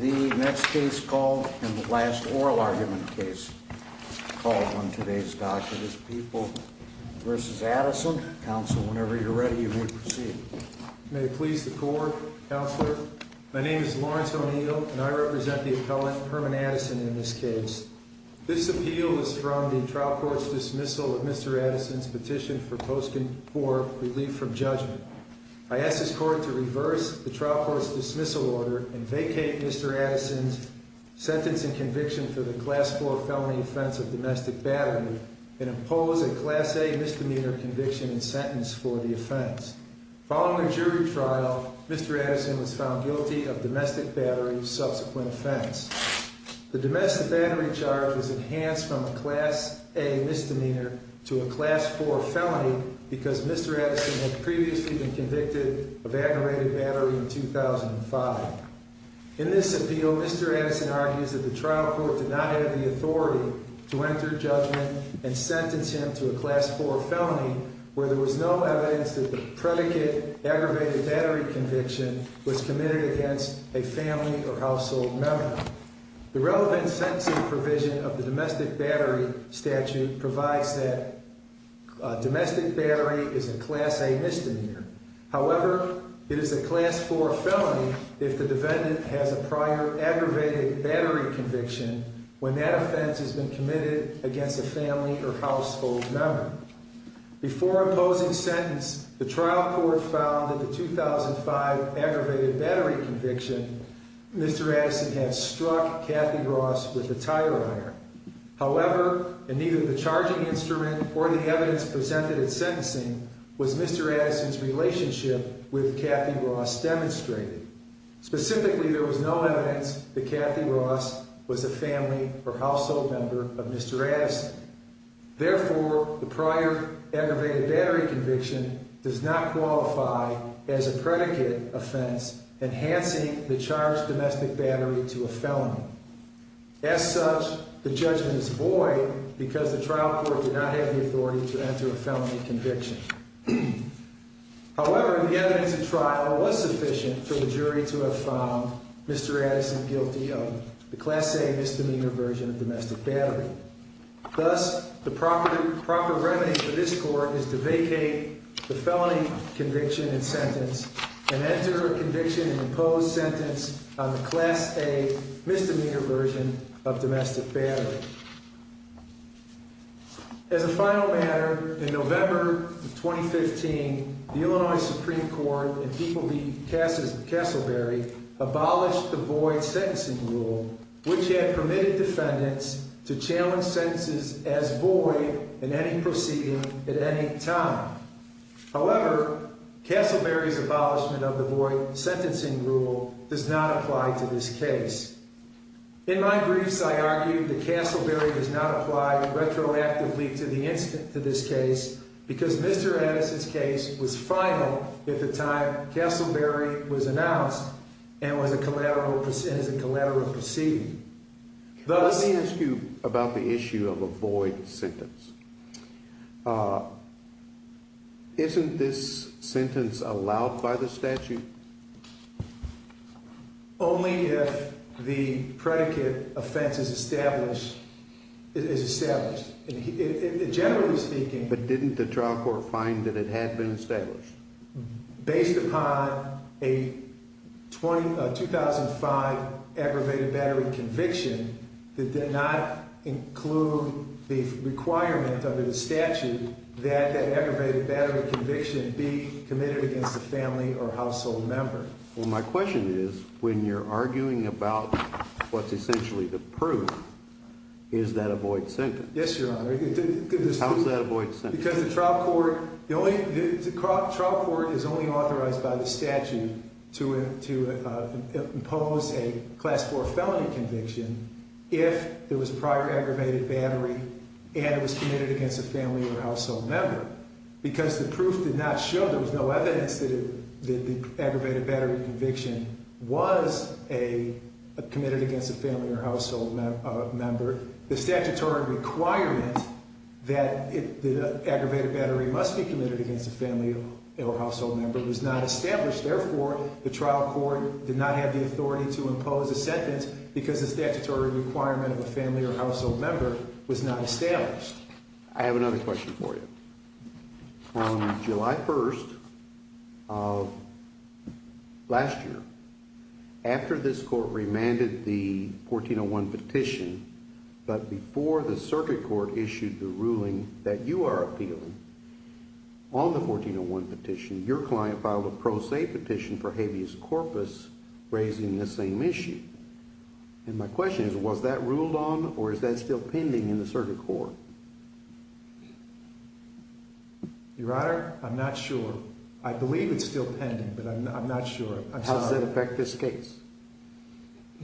The next case called and the last oral argument case called on today's docket is People v. Addison. Counsel, whenever you're ready, you may proceed. May it please the Court, Counselor? My name is Lawrence O'Neill and I represent the appellant Herman Addison in this case. This appeal is from the trial court's dismissal of Mr. Addison's petition for post-court relief from judgment. I ask this Court to reverse the trial court's dismissal order and vacate Mr. Addison's sentence and conviction for the Class 4 felony offense of domestic battery and impose a Class A misdemeanor conviction and sentence for the offense. Following the jury trial, Mr. Addison was found guilty of domestic battery's subsequent offense. The domestic battery charge was enhanced from a Class A misdemeanor to a Class 4 felony because Mr. Addison had previously been convicted of aggravated battery in 2005. In this appeal, Mr. Addison argues that the trial court did not have the authority to enter judgment and sentence him to a Class 4 felony where there was no evidence that the predicate aggravated battery conviction was committed against a family or household member. The relevant sentencing provision of the domestic battery statute provides that domestic battery is a Class A misdemeanor. However, it is a Class 4 felony if the defendant has a prior aggravated battery conviction when that offense has been committed against a family or household member. Before imposing sentence, the trial court found that the 2005 aggravated battery conviction Mr. Addison had struck Kathy Ross with a tire iron. However, in either the charging instrument or the evidence presented at sentencing was Mr. Addison's relationship with Kathy Ross demonstrated. Specifically, there was no evidence that Kathy Ross was a family or household member of Mr. Addison. Therefore, the prior aggravated battery conviction does not qualify as a predicate offense enhancing the charged domestic battery to a felony. As such, the judgment is void because the trial court did not have the authority to enter a felony conviction. However, the evidence at trial was sufficient for the jury to have found Mr. Addison guilty of the Class A misdemeanor version of domestic battery. Thus, the proper remedy for this court is to vacate the felony conviction and sentence and enter a conviction and imposed sentence on the Class A misdemeanor version of domestic battery. As a final matter, in November of 2015, the Illinois Supreme Court and people be cast as Castleberry abolished the void sentencing rule, which had permitted defendants to challenge sentences as void in any proceeding at any time. However, Castleberry's abolishment of the void sentencing rule does not apply to this case. In my briefs, I argued that Castleberry does not apply retroactively to the incident to this case because Mr. Addison's case was final at the time Castleberry was announced and was a collateral as a collateral proceeding. Let me ask you about the issue of a void sentence. Isn't this sentence allowed by the statute? Only if the predicate offense is established is established. Generally speaking, but didn't the trial court find that it had been established? Based upon a 2005 aggravated battery conviction that did not include the requirement under the statute that aggravated battery conviction be committed against a family or household member. Well, my question is when you're arguing about what's essentially the proof, is that a void sentence? Yes, Your Honor. How is that a void sentence? Because the trial court is only authorized by the statute to impose a class four felony conviction if there was prior aggravated battery and it was committed against a family or household member. Because the proof did not show, there was no evidence that the aggravated battery conviction was committed against a family or household member. The statutory requirement that the aggravated battery must be committed against a family or household member was not established. Therefore, the trial court did not have the authority to impose a sentence because the statutory requirement of a family or household member was not established. I have another question for you. On July 1st of last year, after this court remanded the 1401 petition, but before the circuit court issued the ruling that you are appealing on the 1401 petition, your client filed a pro se petition for habeas corpus raising this same issue. And my question is, was that ruled on or is that still pending in the circuit court? Your Honor, I'm not sure. I believe it's still pending, but I'm not sure. How does that affect this case?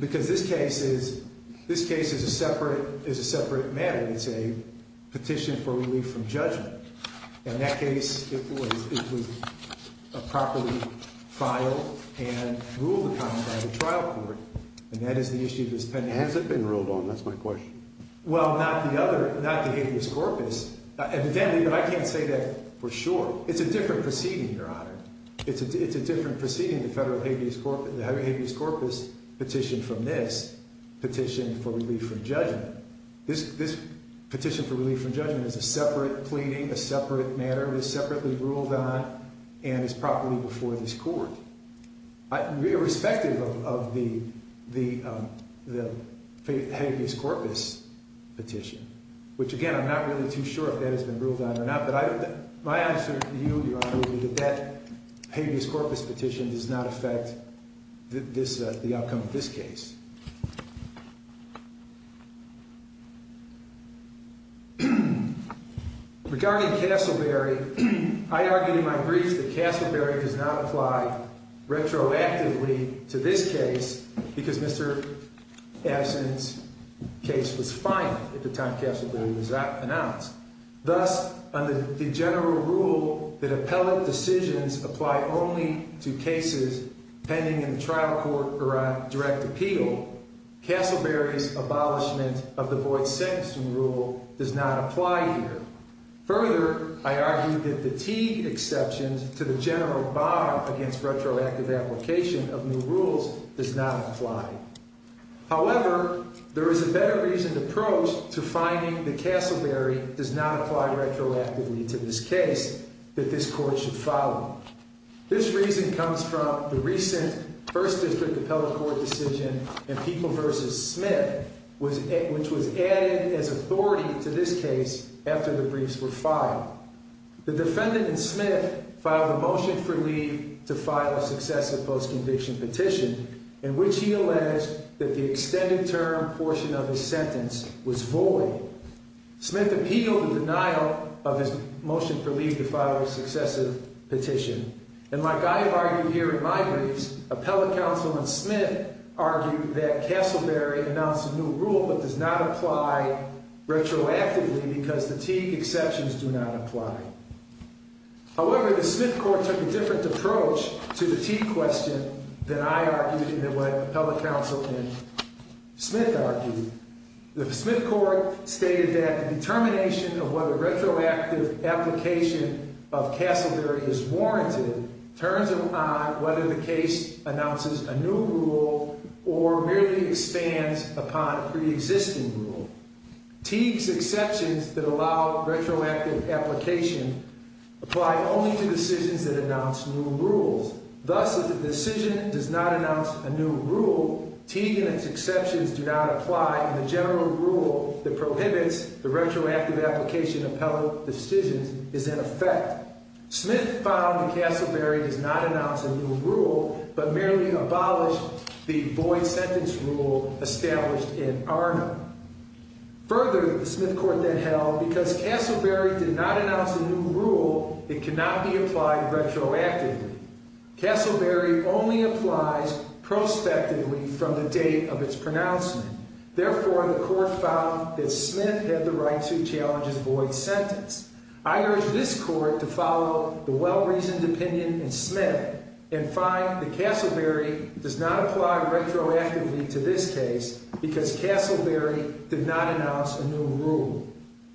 Because this case is a separate matter. It's a petition for relief from judgment. In that case, it was properly filed and ruled upon by the trial court. And that is the issue that's pending. Has it been ruled on? That's my question. Well, not the habeas corpus. I can't say that for sure. It's a different proceeding, Your Honor. It's a different proceeding, the federal habeas corpus petition from this petition for relief from judgment. This petition for relief from judgment is a separate pleading, a separate matter. It is separately ruled on and is properly before this court. Irrespective of the habeas corpus petition, which, again, I'm not really too sure if that has been ruled on or not. But my answer to you, Your Honor, would be that that habeas corpus petition does not affect the outcome of this case. Regarding Castleberry, I argued in my brief that Castleberry does not apply retroactively to this case because Mr. Absinthe's case was final at the time Castleberry was announced. Thus, under the general rule that appellate decisions apply only to cases pending in the trial court or on direct appeal, Castleberry's abolishment of the void sentencing rule does not apply here. Further, I argued that the Teague exceptions to the general bar against retroactive application of new rules does not apply. However, there is a better reasoned approach to finding that Castleberry does not apply retroactively to this case that this court should follow. This reason comes from the recent First District appellate court decision in People v. Smith, which was added as authority to this case after the briefs were filed. The defendant in Smith filed a motion for leave to file a successive post-conviction petition in which he alleged that the extended term portion of his sentence was void. Smith appealed the denial of his motion for leave to file a successive petition. And like I have argued here in my briefs, appellate counsel in Smith argued that Castleberry announced a new rule but does not apply retroactively because the Teague exceptions do not apply. However, the Smith court took a different approach to the Teague question than I argued and than what appellate counsel in Smith argued. The Smith court stated that the determination of whether retroactive application of Castleberry is warranted turns upon whether the case announces a new rule or merely expands upon a preexisting rule. Teague's exceptions that allow retroactive application apply only to decisions that announce new rules. Thus, if the decision does not announce a new rule, Teague and its exceptions do not apply, and the general rule that prohibits the retroactive application of appellate decisions is in effect. Smith found that Castleberry does not announce a new rule but merely abolished the void sentence rule established in Arna. Further, the Smith court then held, because Castleberry did not announce a new rule, it cannot be applied retroactively. Castleberry only applies prospectively from the date of its pronouncement. Therefore, the court found that Smith had the right to challenge his void sentence. I urge this court to follow the well-reasoned opinion in Smith and find that Castleberry does not apply retroactively to this case because Castleberry did not announce a new rule.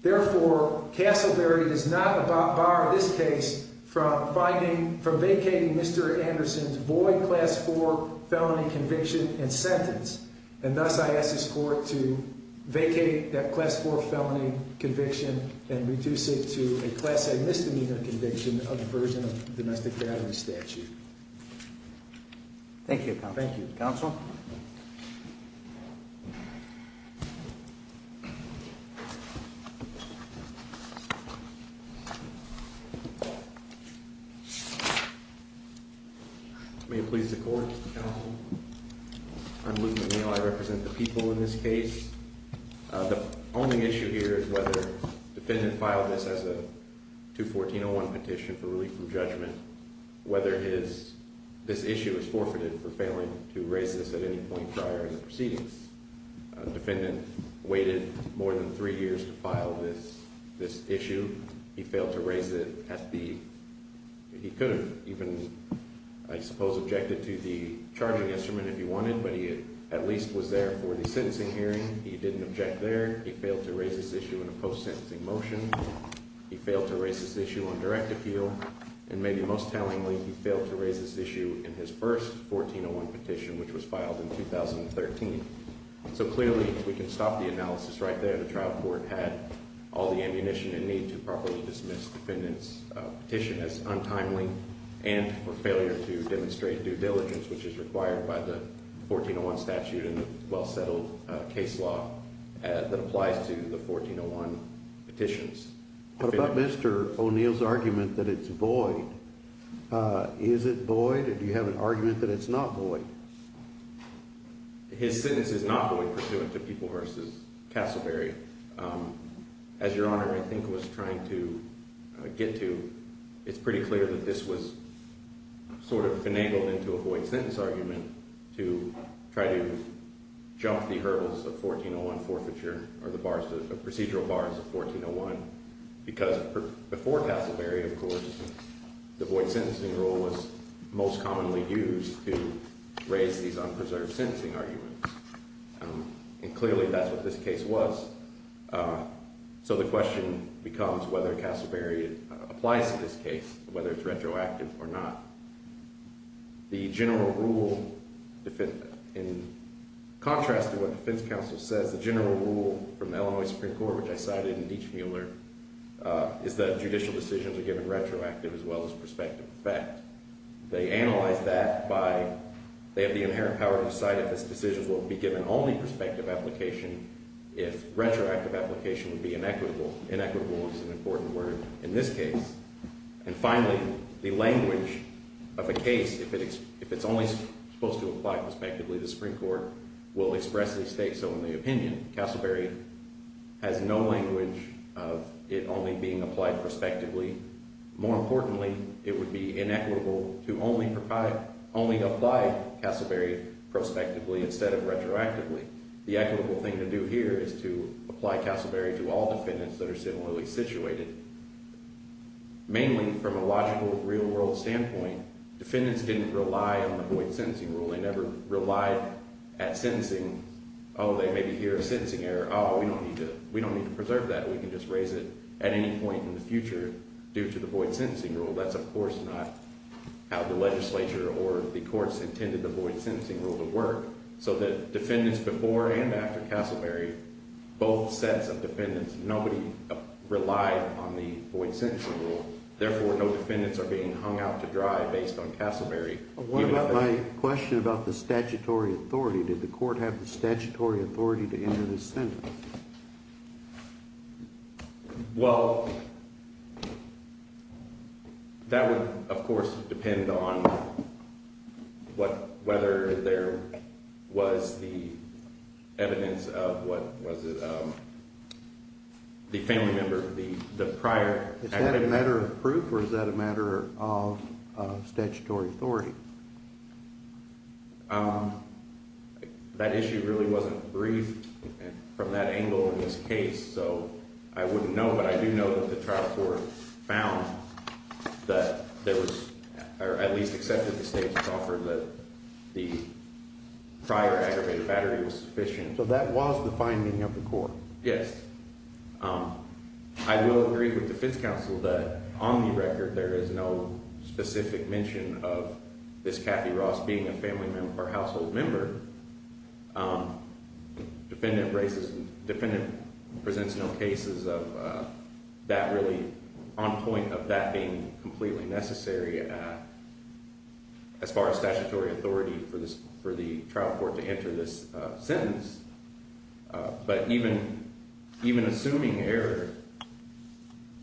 Therefore, Castleberry does not bar this case from vacating Mr. Anderson's void class 4 felony conviction and sentence. And thus, I ask this court to vacate that class 4 felony conviction and reduce it to a class A misdemeanor conviction of the version of the domestic battery statute. Thank you, counsel. Thank you, counsel. May it please the court, counsel. I'm Luke McNeal. I represent the people in this case. The only issue here is whether the defendant filed this as a 214-01 petition for relief from judgment, whether this issue was forfeited for failing to raise this at any point prior in the proceedings. The defendant waited more than three years to file this issue. He failed to raise it at the – he could have even, I suppose, objected to the charging instrument if he wanted, but he at least was there for the sentencing hearing. He didn't object there. He failed to raise this issue in a post-sentencing motion. He failed to raise this issue on direct appeal. And maybe most tellingly, he failed to raise this issue in his first 14-01 petition, which was filed in 2013. So clearly, if we can stop the analysis right there, the trial court had all the ammunition it needed to properly dismiss the defendant's petition as untimely and for failure to demonstrate due diligence, which is required by the 14-01 statute and the well-settled case law that applies to the 14-01 petitions. What about Mr. O'Neill's argument that it's void? Is it void? Do you have an argument that it's not void? His sentence is not void pursuant to People v. Castleberry. As Your Honor, I think, was trying to get to, it's pretty clear that this was sort of finagled into a void sentence argument to try to jump the hurdles of 14-01 forfeiture or the procedural bars of 14-01. Because before Castleberry, of course, the void sentencing rule was most commonly used to raise these unpreserved sentencing arguments. And clearly, that's what this case was. So the question becomes whether Castleberry applies to this case, whether it's retroactive or not. The general rule, in contrast to what defense counsel says, the general rule from the Illinois Supreme Court, which I cited in Dietsch-Mueller, is that judicial decisions are given retroactive as well as prospective effect. They analyze that by they have the inherent power to decide if this decision will be given only prospective application if retroactive application would be inequitable. Inequitable is an important word in this case. And finally, the language of a case, if it's only supposed to apply prospectively, the Supreme Court will express the state. So in the opinion, Castleberry has no language of it only being applied prospectively. More importantly, it would be inequitable to only apply Castleberry prospectively instead of retroactively. The equitable thing to do here is to apply Castleberry to all defendants that are similarly situated, mainly from a logical, real-world standpoint. Defendants didn't rely on the void sentencing rule. They never relied at sentencing, oh, they maybe hear a sentencing error. Oh, we don't need to preserve that. We can just raise it at any point in the future due to the void sentencing rule. That's, of course, not how the legislature or the courts intended the void sentencing rule to work. So the defendants before and after Castleberry, both sets of defendants, nobody relied on the void sentencing rule. Therefore, no defendants are being hung out to dry based on Castleberry. What about my question about the statutory authority? Did the court have the statutory authority to enter this sentence? Well, that would, of course, depend on whether there was the evidence of what was the family member, the prior. Is that a matter of proof or is that a matter of statutory authority? That issue really wasn't briefed from that angle in this case. So I wouldn't know, but I do know that the trial court found that there was or at least accepted the state's offer that the prior aggravated battery was sufficient. So that was the finding of the court? Yes. I will agree with defense counsel that on the record there is no specific mention of this Kathy Ross being a family member or household member. Defendant presents no cases of that really on point of that being completely necessary as far as statutory authority for the trial court to enter this sentence. But even assuming error,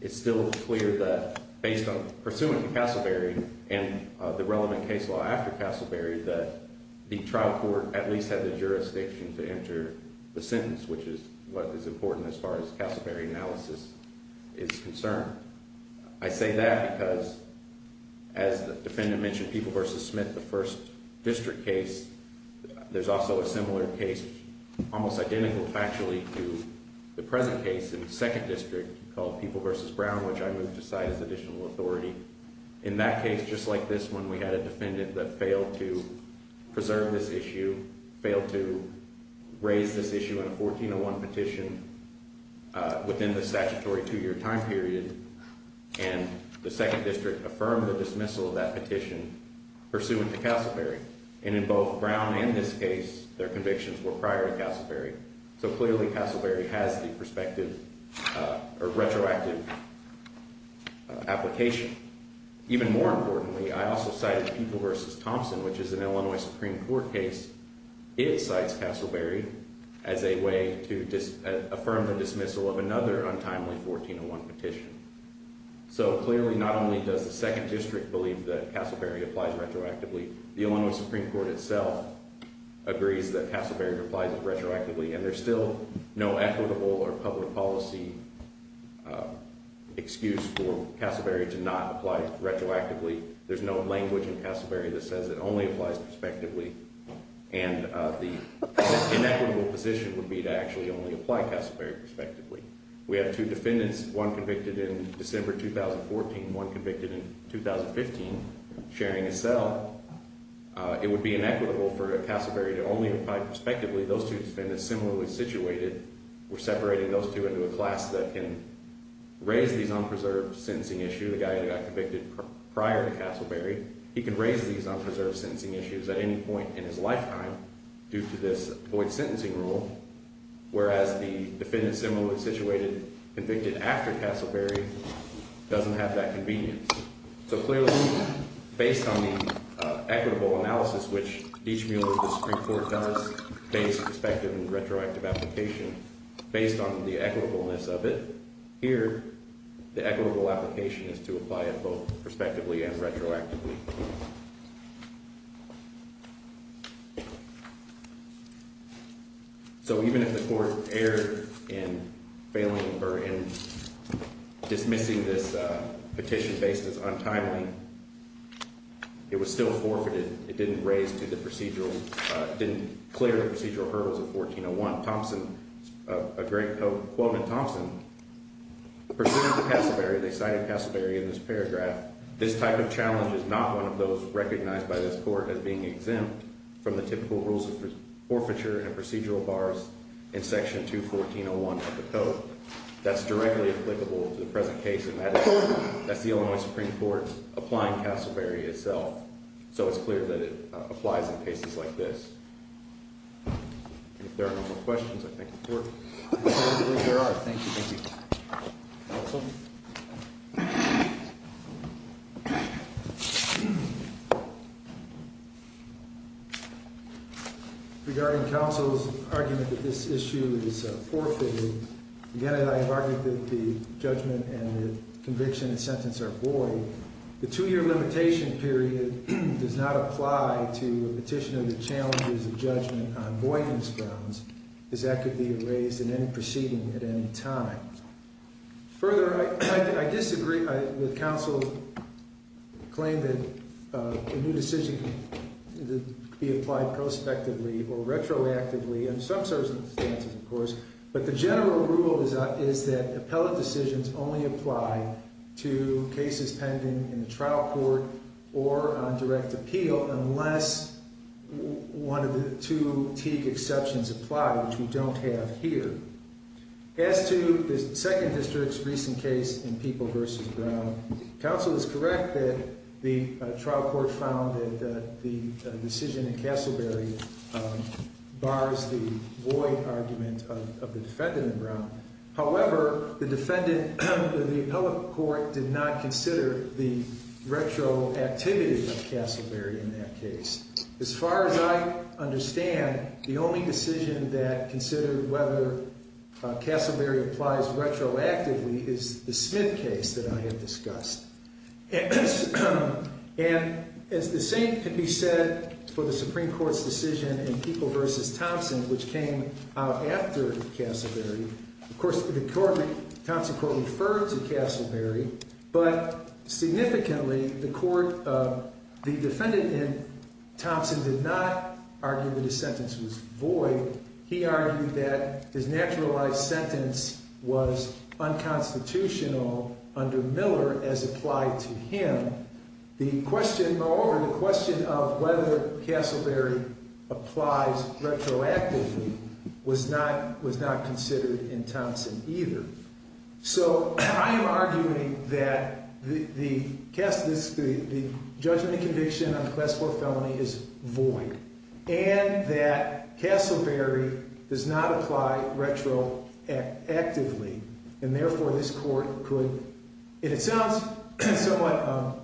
it's still clear that based on pursuing Castleberry and the relevant case law after Castleberry that the trial court at least had the jurisdiction to enter the sentence, which is what is important as far as Castleberry analysis is concerned. I say that because as the defendant mentioned, People v. Smith, the first district case, there's also a similar case, almost identical factually to the present case in the second district called People v. Brown, which I moved aside as additional authority. In that case, just like this one, we had a defendant that failed to preserve this issue, failed to raise this issue in a 1401 petition within the statutory two year time period, and the second district affirmed the dismissal of that petition pursuant to Castleberry. And in both Brown and this case, their convictions were prior to Castleberry. So clearly Castleberry has the perspective or retroactive application. Even more importantly, I also cited People v. Thompson, which is an Illinois Supreme Court case. It cites Castleberry as a way to affirm the dismissal of another untimely 1401 petition. So clearly not only does the second district believe that Castleberry applies retroactively, the Illinois Supreme Court itself agrees that Castleberry applies retroactively, and there's still no equitable or public policy excuse for Castleberry to not apply retroactively. There's no language in Castleberry that says it only applies prospectively, and the inequitable position would be to actually only apply Castleberry prospectively. We have two defendants, one convicted in December 2014, one convicted in 2015, sharing a cell. It would be inequitable for Castleberry to only apply prospectively. Those two defendants, similarly situated, were separating those two into a class that can raise these unpreserved sentencing issues. The guy that got convicted prior to Castleberry, he can raise these unpreserved sentencing issues at any point in his lifetime due to this void sentencing rule. Whereas the defendant, similarly situated, convicted after Castleberry doesn't have that convenience. So clearly, based on the equitable analysis, which each mule of the Supreme Court does, based, prospective, and retroactive application, based on the equitableness of it, here the equitable application is to apply it both prospectively and retroactively. So even if the court erred in failing or in dismissing this petition based as untimely, it was still forfeited. It didn't raise to the procedural, didn't clear the procedural hurdles of 1401. A great quote from Thompson. Pursuant to Castleberry, they cited Castleberry in this paragraph, this type of challenge is not one of those recognized by this court as being exempt from the typical rules of forfeiture and procedural bars in section 214.01 of the code. That's directly applicable to the present case, and that's the Illinois Supreme Court applying Castleberry itself. So it's clear that it applies in cases like this. If there are no more questions, I thank the court. I believe there are. Thank you. Thank you. Counsel? Regarding counsel's argument that this issue is forfeited, again, I argue that the judgment and the conviction and sentence are void. So the two-year limitation period does not apply to a petitioner that challenges the judgment on voidness grounds, as that could be erased in any proceeding at any time. Further, I disagree with counsel's claim that a new decision could be applied prospectively or retroactively in some circumstances, of course. But the general rule is that appellate decisions only apply to cases pending in the trial court or on direct appeal unless one of the two Teague exceptions apply, which we don't have here. As to the second district's recent case in People v. Brown, counsel is correct that the trial court found that the decision in Castleberry bars the void argument of the defendant in Brown. However, the defendant in the appellate court did not consider the retroactivity of Castleberry in that case. As far as I understand, the only decision that considered whether Castleberry applies retroactively is the Smith case that I had discussed. And the same can be said for the Supreme Court's decision in People v. Thompson, which came out after Castleberry. Of course, the Thompson court referred to Castleberry, but significantly, the defendant in Thompson did not argue that his sentence was void. He argued that his naturalized sentence was unconstitutional under Miller as applied to him. The question, moreover, the question of whether Castleberry applies retroactively was not considered in Thompson either. So I am arguing that the judgment and conviction on the class 4 felony is void and that Castleberry does not apply retroactively. And therefore, this court could, it sounds somewhat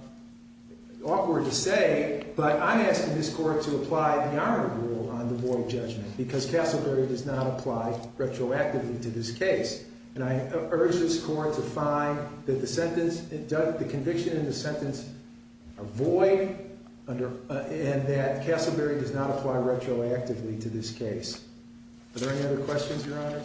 awkward to say, but I'm asking this court to apply the armor rule on the void judgment because Castleberry does not apply retroactively to this case. And I urge this court to find that the conviction and the sentence are void and that Castleberry does not apply retroactively to this case. Are there any other questions, Your Honor?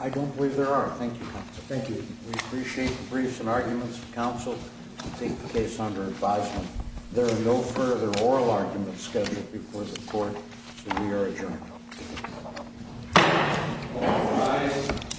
I don't believe there are. Thank you, Counsel. Thank you. We appreciate the briefs and arguments from counsel to take the case under advisement. There are no further oral arguments scheduled before the court, so we are adjourned. All rise.